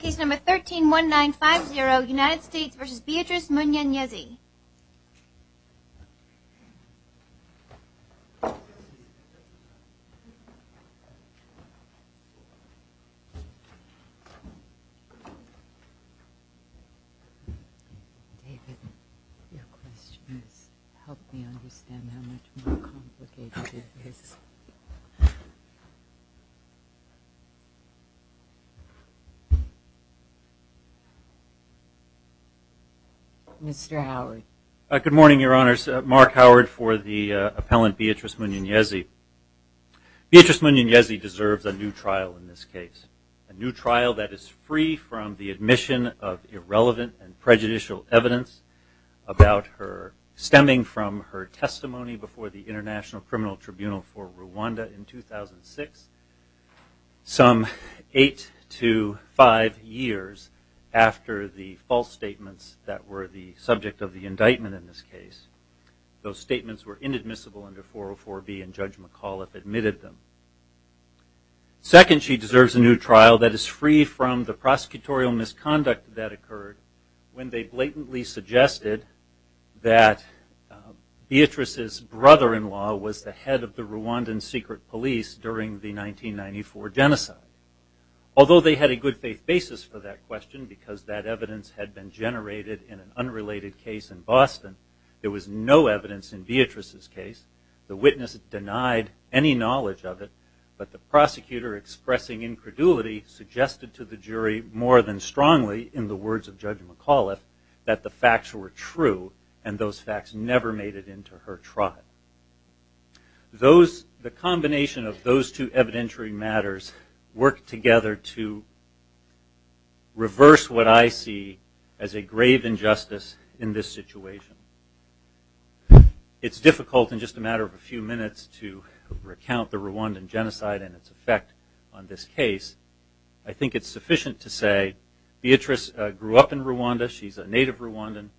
Case number 131950 United States v. Beatrice Munyenyezi Good morning your honors, Mark Howard for the appellant Beatrice Munyenyezi. Beatrice Munyenyezi deserves a new trial in this case. A new trial that is free from the admission of irrelevant and prejudicial evidence about her stemming from her testimony before the after the false statements that were the subject of the indictment in this case. Those statements were inadmissible under 404B and Judge McAuliffe admitted them. Second, she deserves a new trial that is free from the prosecutorial misconduct that occurred when they blatantly suggested that Beatrice's brother-in-law was the head of the Rwandan secret police during the 1994 genocide. Although they had a good faith basis for that question because that evidence had been generated in an unrelated case in Boston, there was no evidence in Beatrice's case. The witness denied any knowledge of it, but the prosecutor expressing incredulity suggested to the jury more than strongly in the words of Judge McAuliffe that the facts were true and those facts never made it into her trial. Those the combination of those two evidentiary matters worked together to reverse what I see as a grave injustice in this situation. It's difficult in just a matter of a few minutes to recount the Rwandan genocide and its effect on this case. I think it's sufficient to say Beatrice grew up in Rwanda. She's a native Rwandan.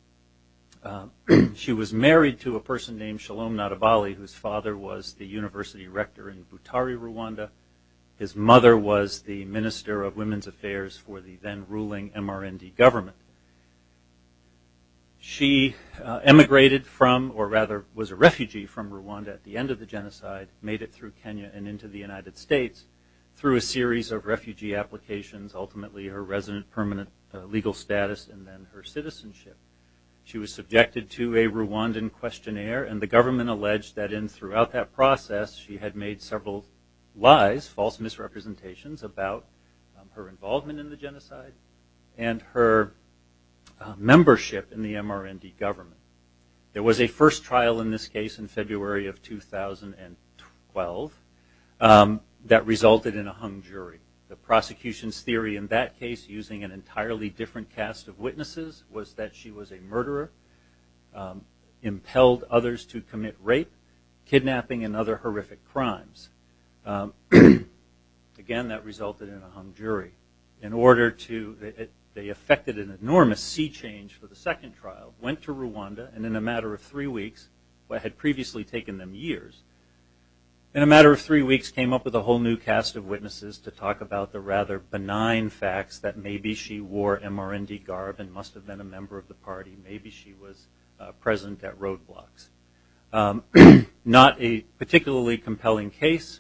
She was married to a person named Shalom Nadabali whose father was the university rector in Butari, Rwanda. His mother was the Minister of Women's Affairs for the then ruling MRND government. She emigrated from or rather was a refugee from Rwanda at the end of the genocide, made it through Kenya and into the United States through a series of refugee applications, ultimately her resident permanent legal status, and then her citizenship. She was that process she had made several lies, false misrepresentations about her involvement in the genocide and her membership in the MRND government. There was a first trial in this case in February of 2012 that resulted in a hung jury. The prosecution's theory in that case using an entirely different cast of witnesses was that she was a murderer, impelled others to commit rape, kidnapping, and other horrific crimes. Again, that resulted in a hung jury. In order to, they affected an enormous sea change for the second trial, went to Rwanda and in a matter of three weeks, what had previously taken them years, in a matter of three weeks came up with a whole new cast of witnesses to talk about the rather benign facts that maybe she wore MRND garb and must have been a member of the party. Maybe she was present at roadblocks. Not a particularly compelling case.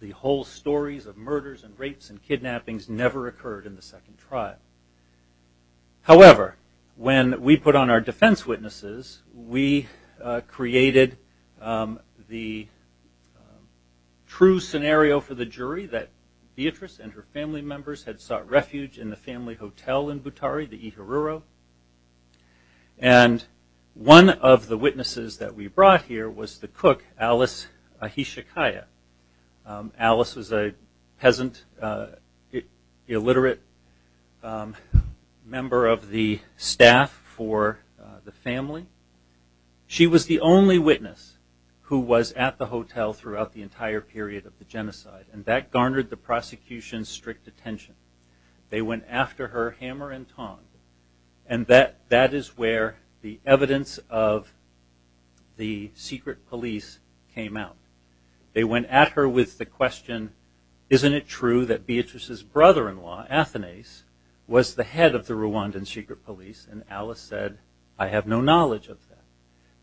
The whole stories of murders and rapes and kidnappings never occurred in the second trial. However, when we put on our defense witnesses, we created the true scenario for the jury that Beatrice and her family members had sought refuge in the family hotel in Butari, the Iharuro, and one of the witnesses that we brought here was the cook Alice Ahisakaya. Alice was a peasant, illiterate member of the staff for the family. She was the only witness who was at the hotel throughout the entire period of the genocide, and that garnered the prosecution's strict attention. They went after her hammer and tongs, and that is where the evidence of the secret police came out. They went at her with the question, isn't it true that Beatrice's brother-in-law, Athanase, was the head of the Rwandan secret police, and Alice said, I have no knowledge of that.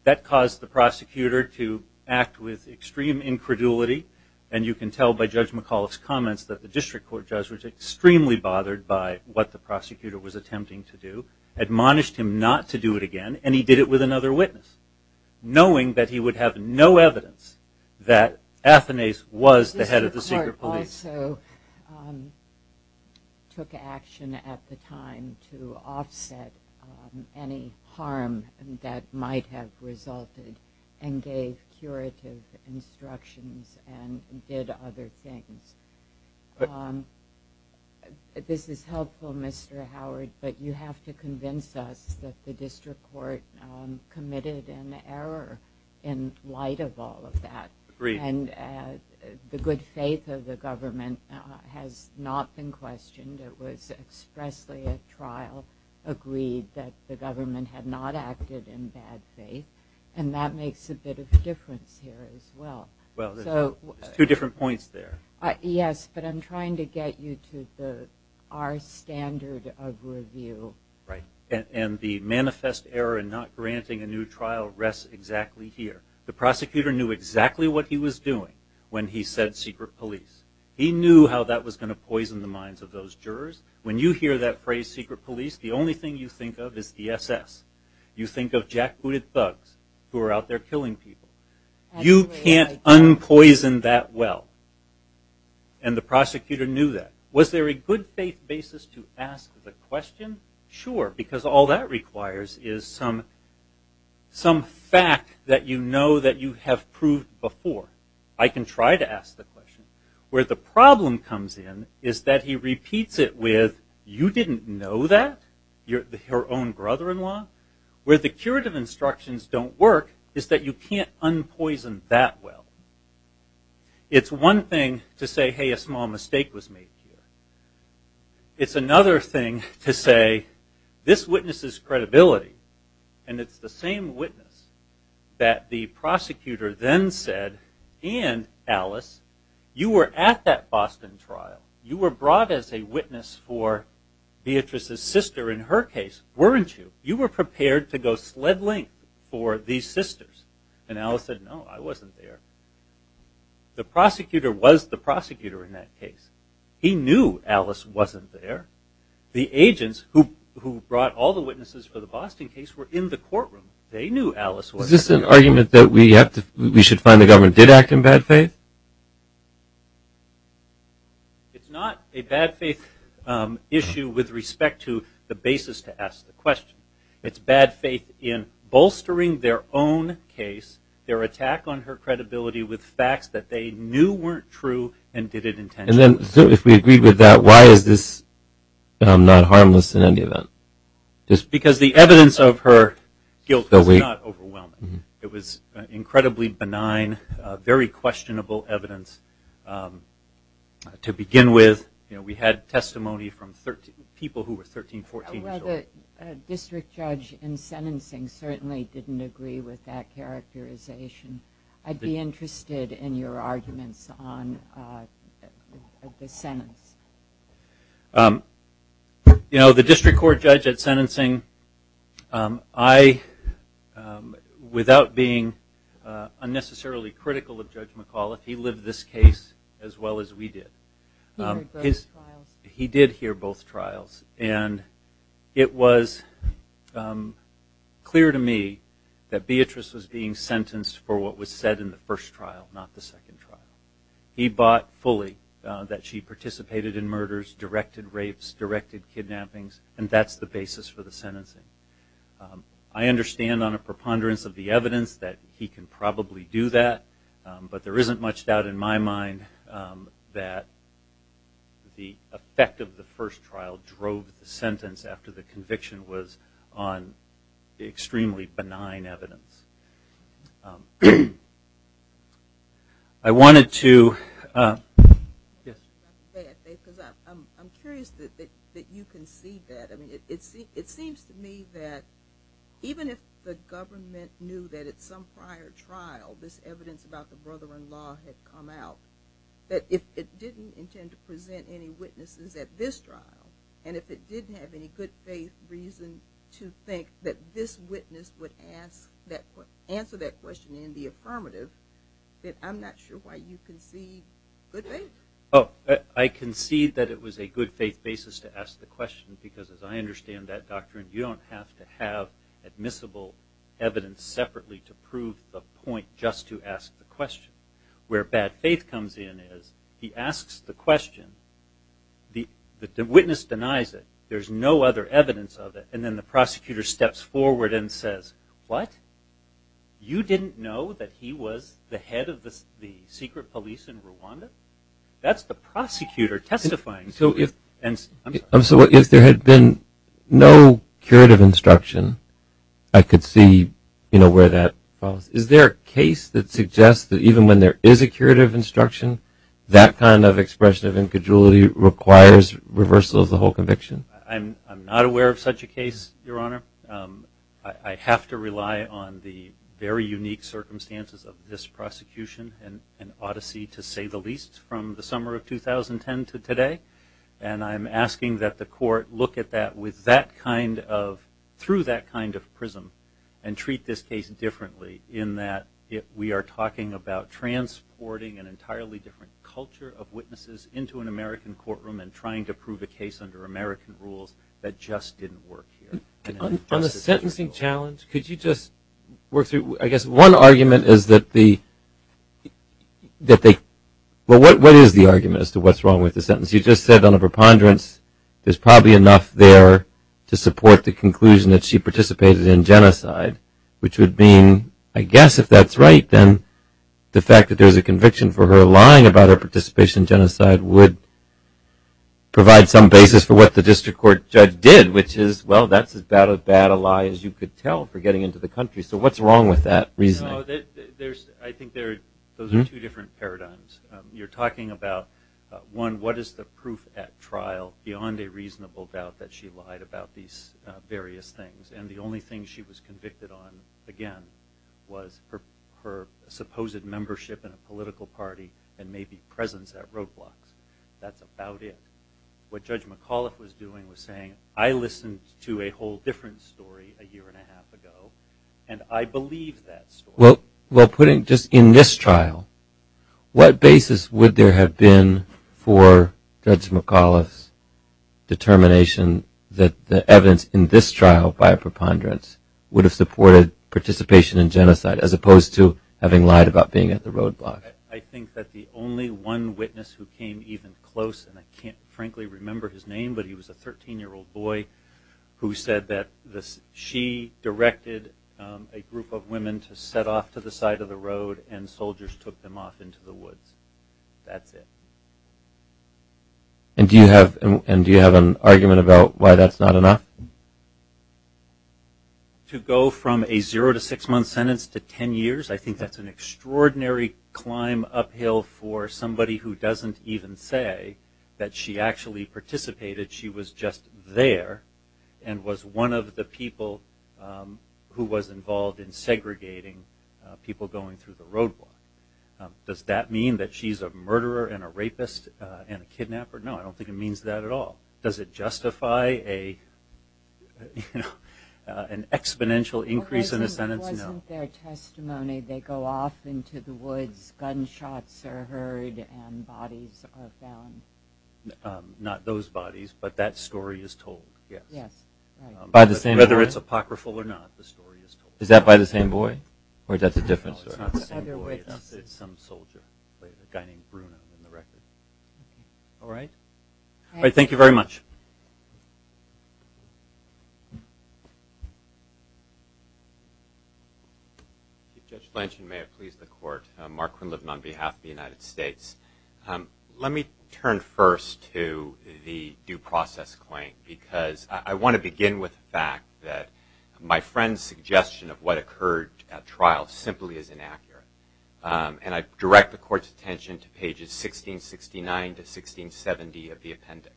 That caused the prosecutor to act with extreme incredulity, and you can tell by Judge McAuliffe's comments that the district court judge was extremely bothered by what the prosecutor was attempting to do, admonished him not to do it again, and he did it with another witness, knowing that he would have no evidence that Athanase was the head of the secret police. The district court also took action at the time to offset any harm that might have resulted, and gave curative instructions and did other things. This is helpful, Mr. Howard, but you have to convince us that the district court committed an error in light of all of that, and the good faith of the government has not been questioned. It was expressly at trial agreed that the government had not acted in bad faith, and that makes a bit of a difference here as well. Well, there's two different points there. Yes, but I'm trying to get you to our standard of review. Right, and the manifest error in not granting a new trial rests exactly here. The prosecutor knew exactly what he was doing when he said secret police. He knew how that was going to poison the minds of those jurors. When you hear that phrase secret police, the only thing you think of is the SS. You think of jack-booted thugs, who are out there killing people. You can't unpoison that well, and the prosecutor knew that. Was there a good faith basis to ask the question? Sure, because all that requires is some fact that you know that you have proved before. I can try to ask the question. Where the problem comes in is that he repeats it with, you didn't know that? Your own brother-in-law? Where the curative instructions don't work is that you can't unpoison that well. It's one thing to say, hey, a small mistake was made here. It's another thing to say, this witnesses credibility, and it's the same witness that the prosecutor then said, and Alice, you were at that Boston trial. You were brought as a witness for Beatrice's sister in her case, weren't you? You were prepared to go sled length for these sisters. And Alice said, no, I wasn't there. The prosecutor was the prosecutor in that case. He knew Alice wasn't there. The agents who brought all the witnesses for the Boston case were in the courtroom. They knew Alice wasn't there. Was this an argument that we should find the government did act in bad faith? It's not a bad faith issue with respect to the basis to ask the question. It's bad faith in bolstering their own case, their attack on her credibility with facts that they knew weren't true and did it intentionally. And then if we agreed with that, why is this not harmless in any event? Because the evidence of her guilt was not overwhelming. It was incredibly benign, very questionable evidence. To begin with, we had testimony from people who were 13, 14 years old. The district judge in sentencing certainly didn't agree with that characterization. I'd be interested in your arguments on the sentence. The district court judge at sentencing, without being unnecessarily critical of Judge McAuliffe, he lived this case as well as we did. He did hear both trials. And it was clear to me that Beatrice was being sentenced for what was said in the first trial, not the second trial. He bought fully that she participated in murders, directed rapes, directed kidnappings, and that's the basis for the sentencing. I understand on a preponderance of the evidence that he can probably do that, but there isn't much doubt in my mind that the effect of the first trial drove the sentence after the conviction was on extremely benign evidence. I'm curious that you can see that. It seems to me that even if the government knew that at some prior trial this evidence about the brother-in-law had come out, that if it didn't intend to present any witnesses at this trial, and if it didn't have any good faith reason to think that this witness would answer that question in the affirmative, that I'm not sure why you concede good faith. I concede that it was a good faith basis to ask the question, because as I understand that doctrine, you don't have to have admissible evidence separately to prove the point just to ask the question. Where bad faith comes in is he asks the question, the witness denies it, there's no other evidence of it, and then the prosecutor steps forward and says, what? You didn't know that he was the head of the secret police in Rwanda? That's the prosecutor testifying. So if there had been no curative instruction, I could see where that falls. Is there a case that suggests that even when there is a curative instruction, that kind of expression of incongruity requires reversal of the whole conviction? I'm not aware of such a case, Your Honor. I have to rely on the very unique circumstances of this prosecution and odyssey, to say the least, from the summer of 2010 to today. And I'm asking that the court look at that through that kind of prism and treat this case differently, in that we are talking about transporting an entirely different culture of witnesses into an American courtroom and trying to prove a case under American rules that just didn't work here. On the sentencing challenge, could you just work through, I guess one argument is that the, well, what is the argument as to what's wrong with the sentence? You just said on a preponderance, there's probably enough there to support the conclusion that she participated in genocide, which would mean, I guess if that's right, then the fact that there's a conviction for her lying about her participation in genocide would provide some basis for what the district court judge did, which is, well, that's about as bad a lie as you could tell for getting into the country, so what's wrong with that reasoning? I think those are two different paradigms. You're talking about, one, what is the proof at trial beyond a reasonable doubt that she lied about these various things, and the only thing she was convicted on, again, was her supposed membership in a political party and maybe presence at roadblocks. That's about it. What Judge McAuliffe was doing was saying, I listened to a whole different story a year and a half ago, and I believe that story. Well, putting just in this trial, what basis would there have been for Judge McAuliffe's determination that the evidence in this trial by a preponderance would have supported participation in genocide as opposed to having lied about being at the roadblocks? I think that the only one witness who came even close, and I can't frankly remember his name, but he was a 13-year-old boy who said that she directed a group of women to set off to the side of the road, and soldiers took them off into the woods. That's it. And do you have an argument about why that's not enough? To go from a zero to six-month sentence to 10 years, I think that's an extraordinary climb uphill for somebody who doesn't even say that she actually participated. She was just there and was one of the people who was involved in segregating people going through the roadblock. Does that mean that she's a murderer and a rapist and a kidnapper? No, I don't think it means that at all. Does it justify an exponential increase in a sentence? No. It wasn't their testimony. They go off into the woods, gunshots are heard, and bodies are found. Not those bodies, but that story is told, yes. By the same boy? Whether it's apocryphal or not, the story is told. Is that by the same boy, or is that a different story? It's not the same boy. It's some soldier, a guy named Bruno in the record. All right. Thank you very much. Judge Blanchard, may it please the Court. Mark Quinlivan on behalf of the United States. Let me turn first to the due process claim. Because I want to begin with the fact that my friend's suggestion of what occurred at trial simply is inaccurate. And I direct the Court's attention to pages 1669 to 1670 of the appendix.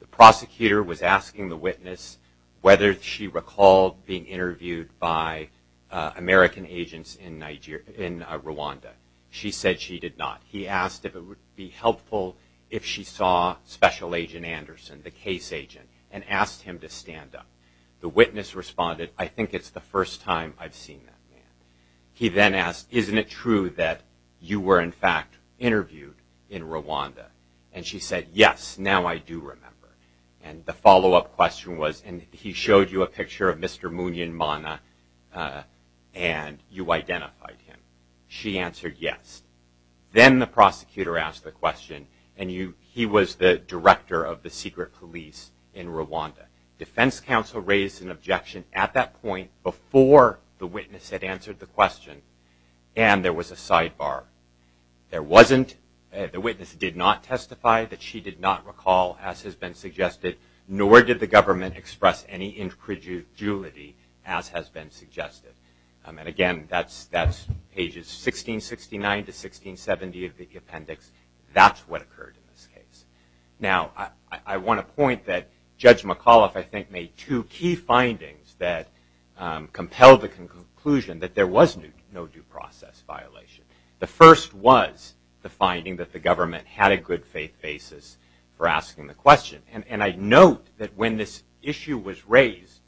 The prosecutor was asking the witness whether she recalled being interviewed by American agents in Rwanda. She said she did not. He asked if it would be helpful if she saw Special Agent Anderson, the case agent, and asked him to stand up. The witness responded, I think it's the first time I've seen that man. He then asked, isn't it true that you were, in fact, interviewed in Rwanda? And she said, yes, now I do remember. And the follow-up question was, and he showed you a picture of Mr. Munyan Mana, and you identified him. She answered yes. Then the prosecutor asked the question, and he was the director of the secret police in Rwanda. Defense counsel raised an objection at that point before the witness had answered the question, and there was a sidebar. There wasn't, the witness did not testify that she did not recall, as has been suggested, nor did the government express any incredulity, as has been suggested. And again, that's pages 1669 to 1670 of the appendix. That's what occurred in this case. Now, I want to point that Judge McAuliffe, I think, made two key findings that compelled the conclusion that there was no due process violation. The first was the finding that the government had a good faith basis for asking the question. And I note that when this issue was raised,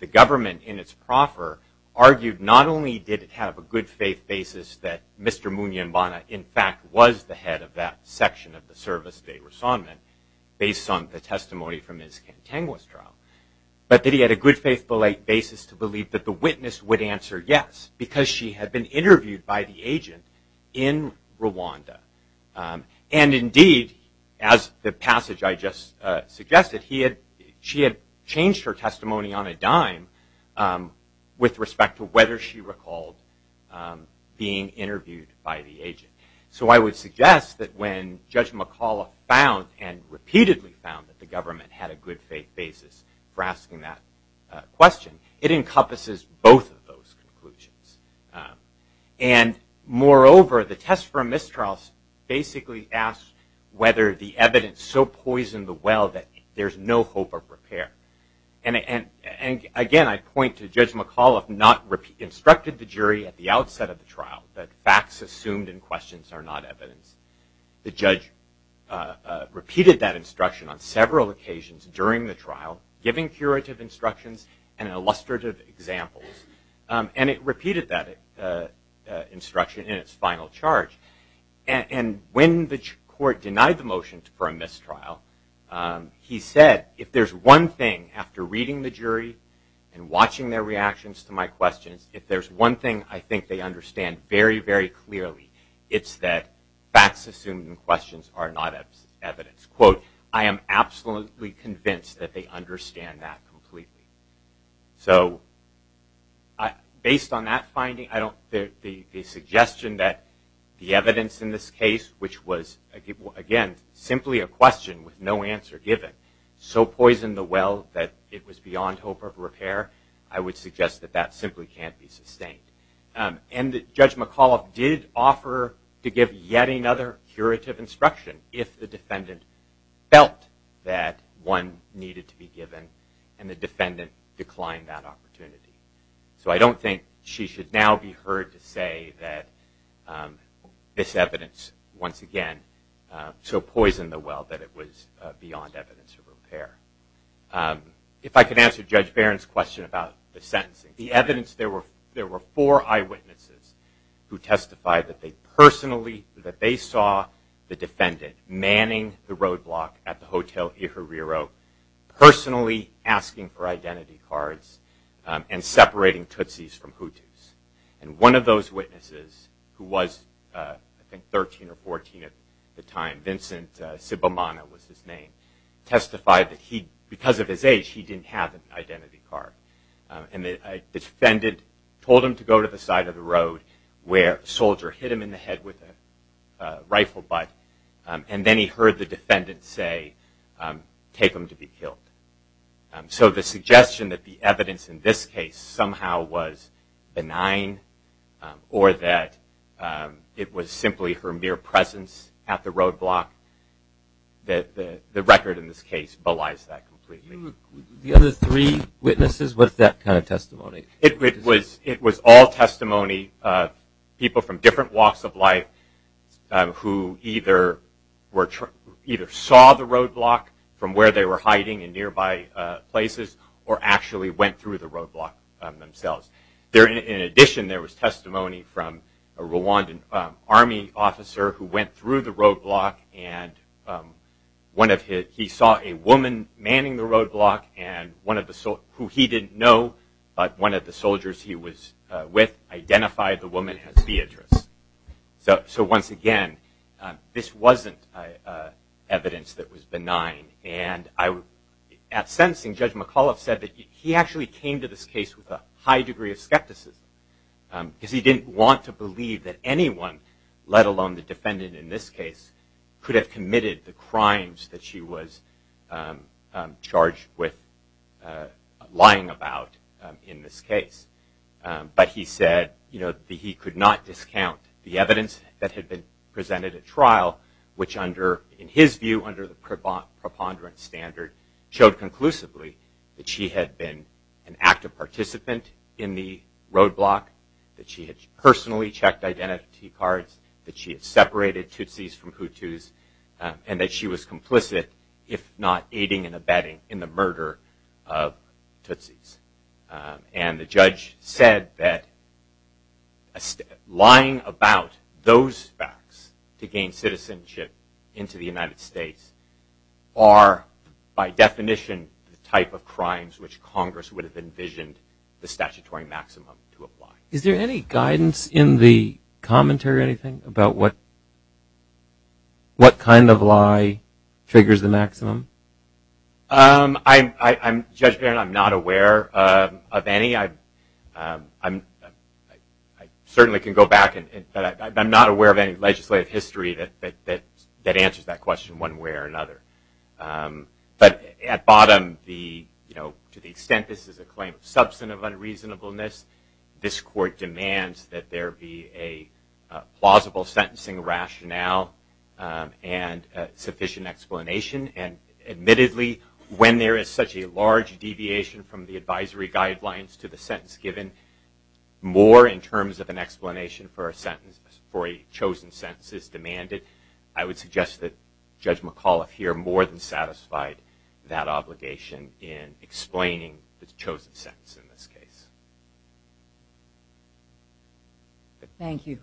the government, in its proffer, argued not only did it have a good faith basis that Mr. Munyan Mana, in fact, was the head of that section of the service, based on the testimony from his contiguous trial, but that he had a good faith basis to believe that the witness would answer yes, because she had been interviewed by the agent in Rwanda. And indeed, as the passage I just suggested, she had changed her testimony on a dime with respect to whether she recalled being interviewed by the agent. So I would suggest that when Judge McAuliffe found and repeatedly found that the government had a good faith basis for asking that question, it encompasses both of those conclusions. And moreover, the test for a mistrial basically asked whether the evidence so poisoned the well that there's no hope of repair. And again, I point to Judge McAuliffe not instructing the jury at the outset of the trial that facts assumed in questions are not evidence. The judge repeated that instruction on several occasions during the trial, giving curative instructions and illustrative examples. And it repeated that instruction in its final charge. And when the court denied the motion for a mistrial, he said, if there's one thing, after reading the jury and watching their reactions to my questions, if there's one thing I think they understand very, very clearly, it's that facts assumed in questions are not evidence. Quote, I am absolutely convinced that they understand that completely. So based on that finding, the suggestion that the evidence in this case, which was, again, simply a question with no answer given, so poisoned the well that it was beyond hope of repair, I would suggest that that simply can't be sustained. And Judge McAuliffe did offer to give yet another curative instruction if the defendant felt that one needed to be given and the defendant declined that opportunity. So I don't think she should now be heard to say that this evidence, once again, so poisoned the well that it was beyond evidence of repair. If I could answer Judge Barron's question about the sentencing, the evidence there were four eyewitnesses who testified that they personally, that they saw the defendant manning the roadblock at the Hotel Iheriro, personally asking for identity cards and separating Tootsies from Hooties. And one of those witnesses, who was, I think, 13 or 14 at the time, Vincent Sibamana was his name, testified that he, because of his age, he didn't have an identity card. And the defendant told him to go to the side of the road where a soldier hit him in the head with a rifle butt, and then he heard the defendant say, take him to be killed. So the suggestion that the evidence in this case somehow was benign or that it was simply her mere presence at the roadblock, the record in this case belies that completely. It was all testimony of people from different walks of life who either saw the roadblock from where they were hiding in nearby places or actually went through the roadblock themselves. In addition, there was testimony from a Rwandan Army officer who went through the roadblock, and he saw a woman manning the roadblock, who he didn't know, but one of the soldiers he was with identified the woman as Beatrice. So once again, this wasn't evidence that was benign. And at sentencing, Judge McAuliffe said that he actually came to this case with a high degree of skepticism, because he didn't want to believe that anyone, let alone the defendant in this case, could have committed the crimes that she was charged with lying about in this case. But he said that he could not discount the evidence that had been presented at trial, which under, in his view, under the preponderance standard, showed conclusively that she had been an active participant in the roadblock, that she had personally checked identity cards, that she had separated Tootsies from Hutus, and that she was complicit, if not aiding and abetting, in the murder of Tootsies. And the judge said that lying about those facts to gain citizenship into the United States are by definition the type of crimes which Congress would have envisioned the statutory maximum to apply. Is there any guidance in the commentary or anything about what kind of lie figures the maximum? Judge Barron, I'm not aware of any. I certainly can go back, but I'm not aware of any legislative history that answers that question one way or another. But at bottom, to the extent this is a claim of substantive unreasonableness, this court demands that there be a plausible sentencing rationale and sufficient explanation. And admittedly, when there is such a large deviation from the advisory guidelines to the sentence given, more in terms of an explanation for a sentence, for a chosen sentence is demanded. I would suggest that Judge McAuliffe here more than satisfied that obligation in explaining the chosen sentence in this case. Thank you.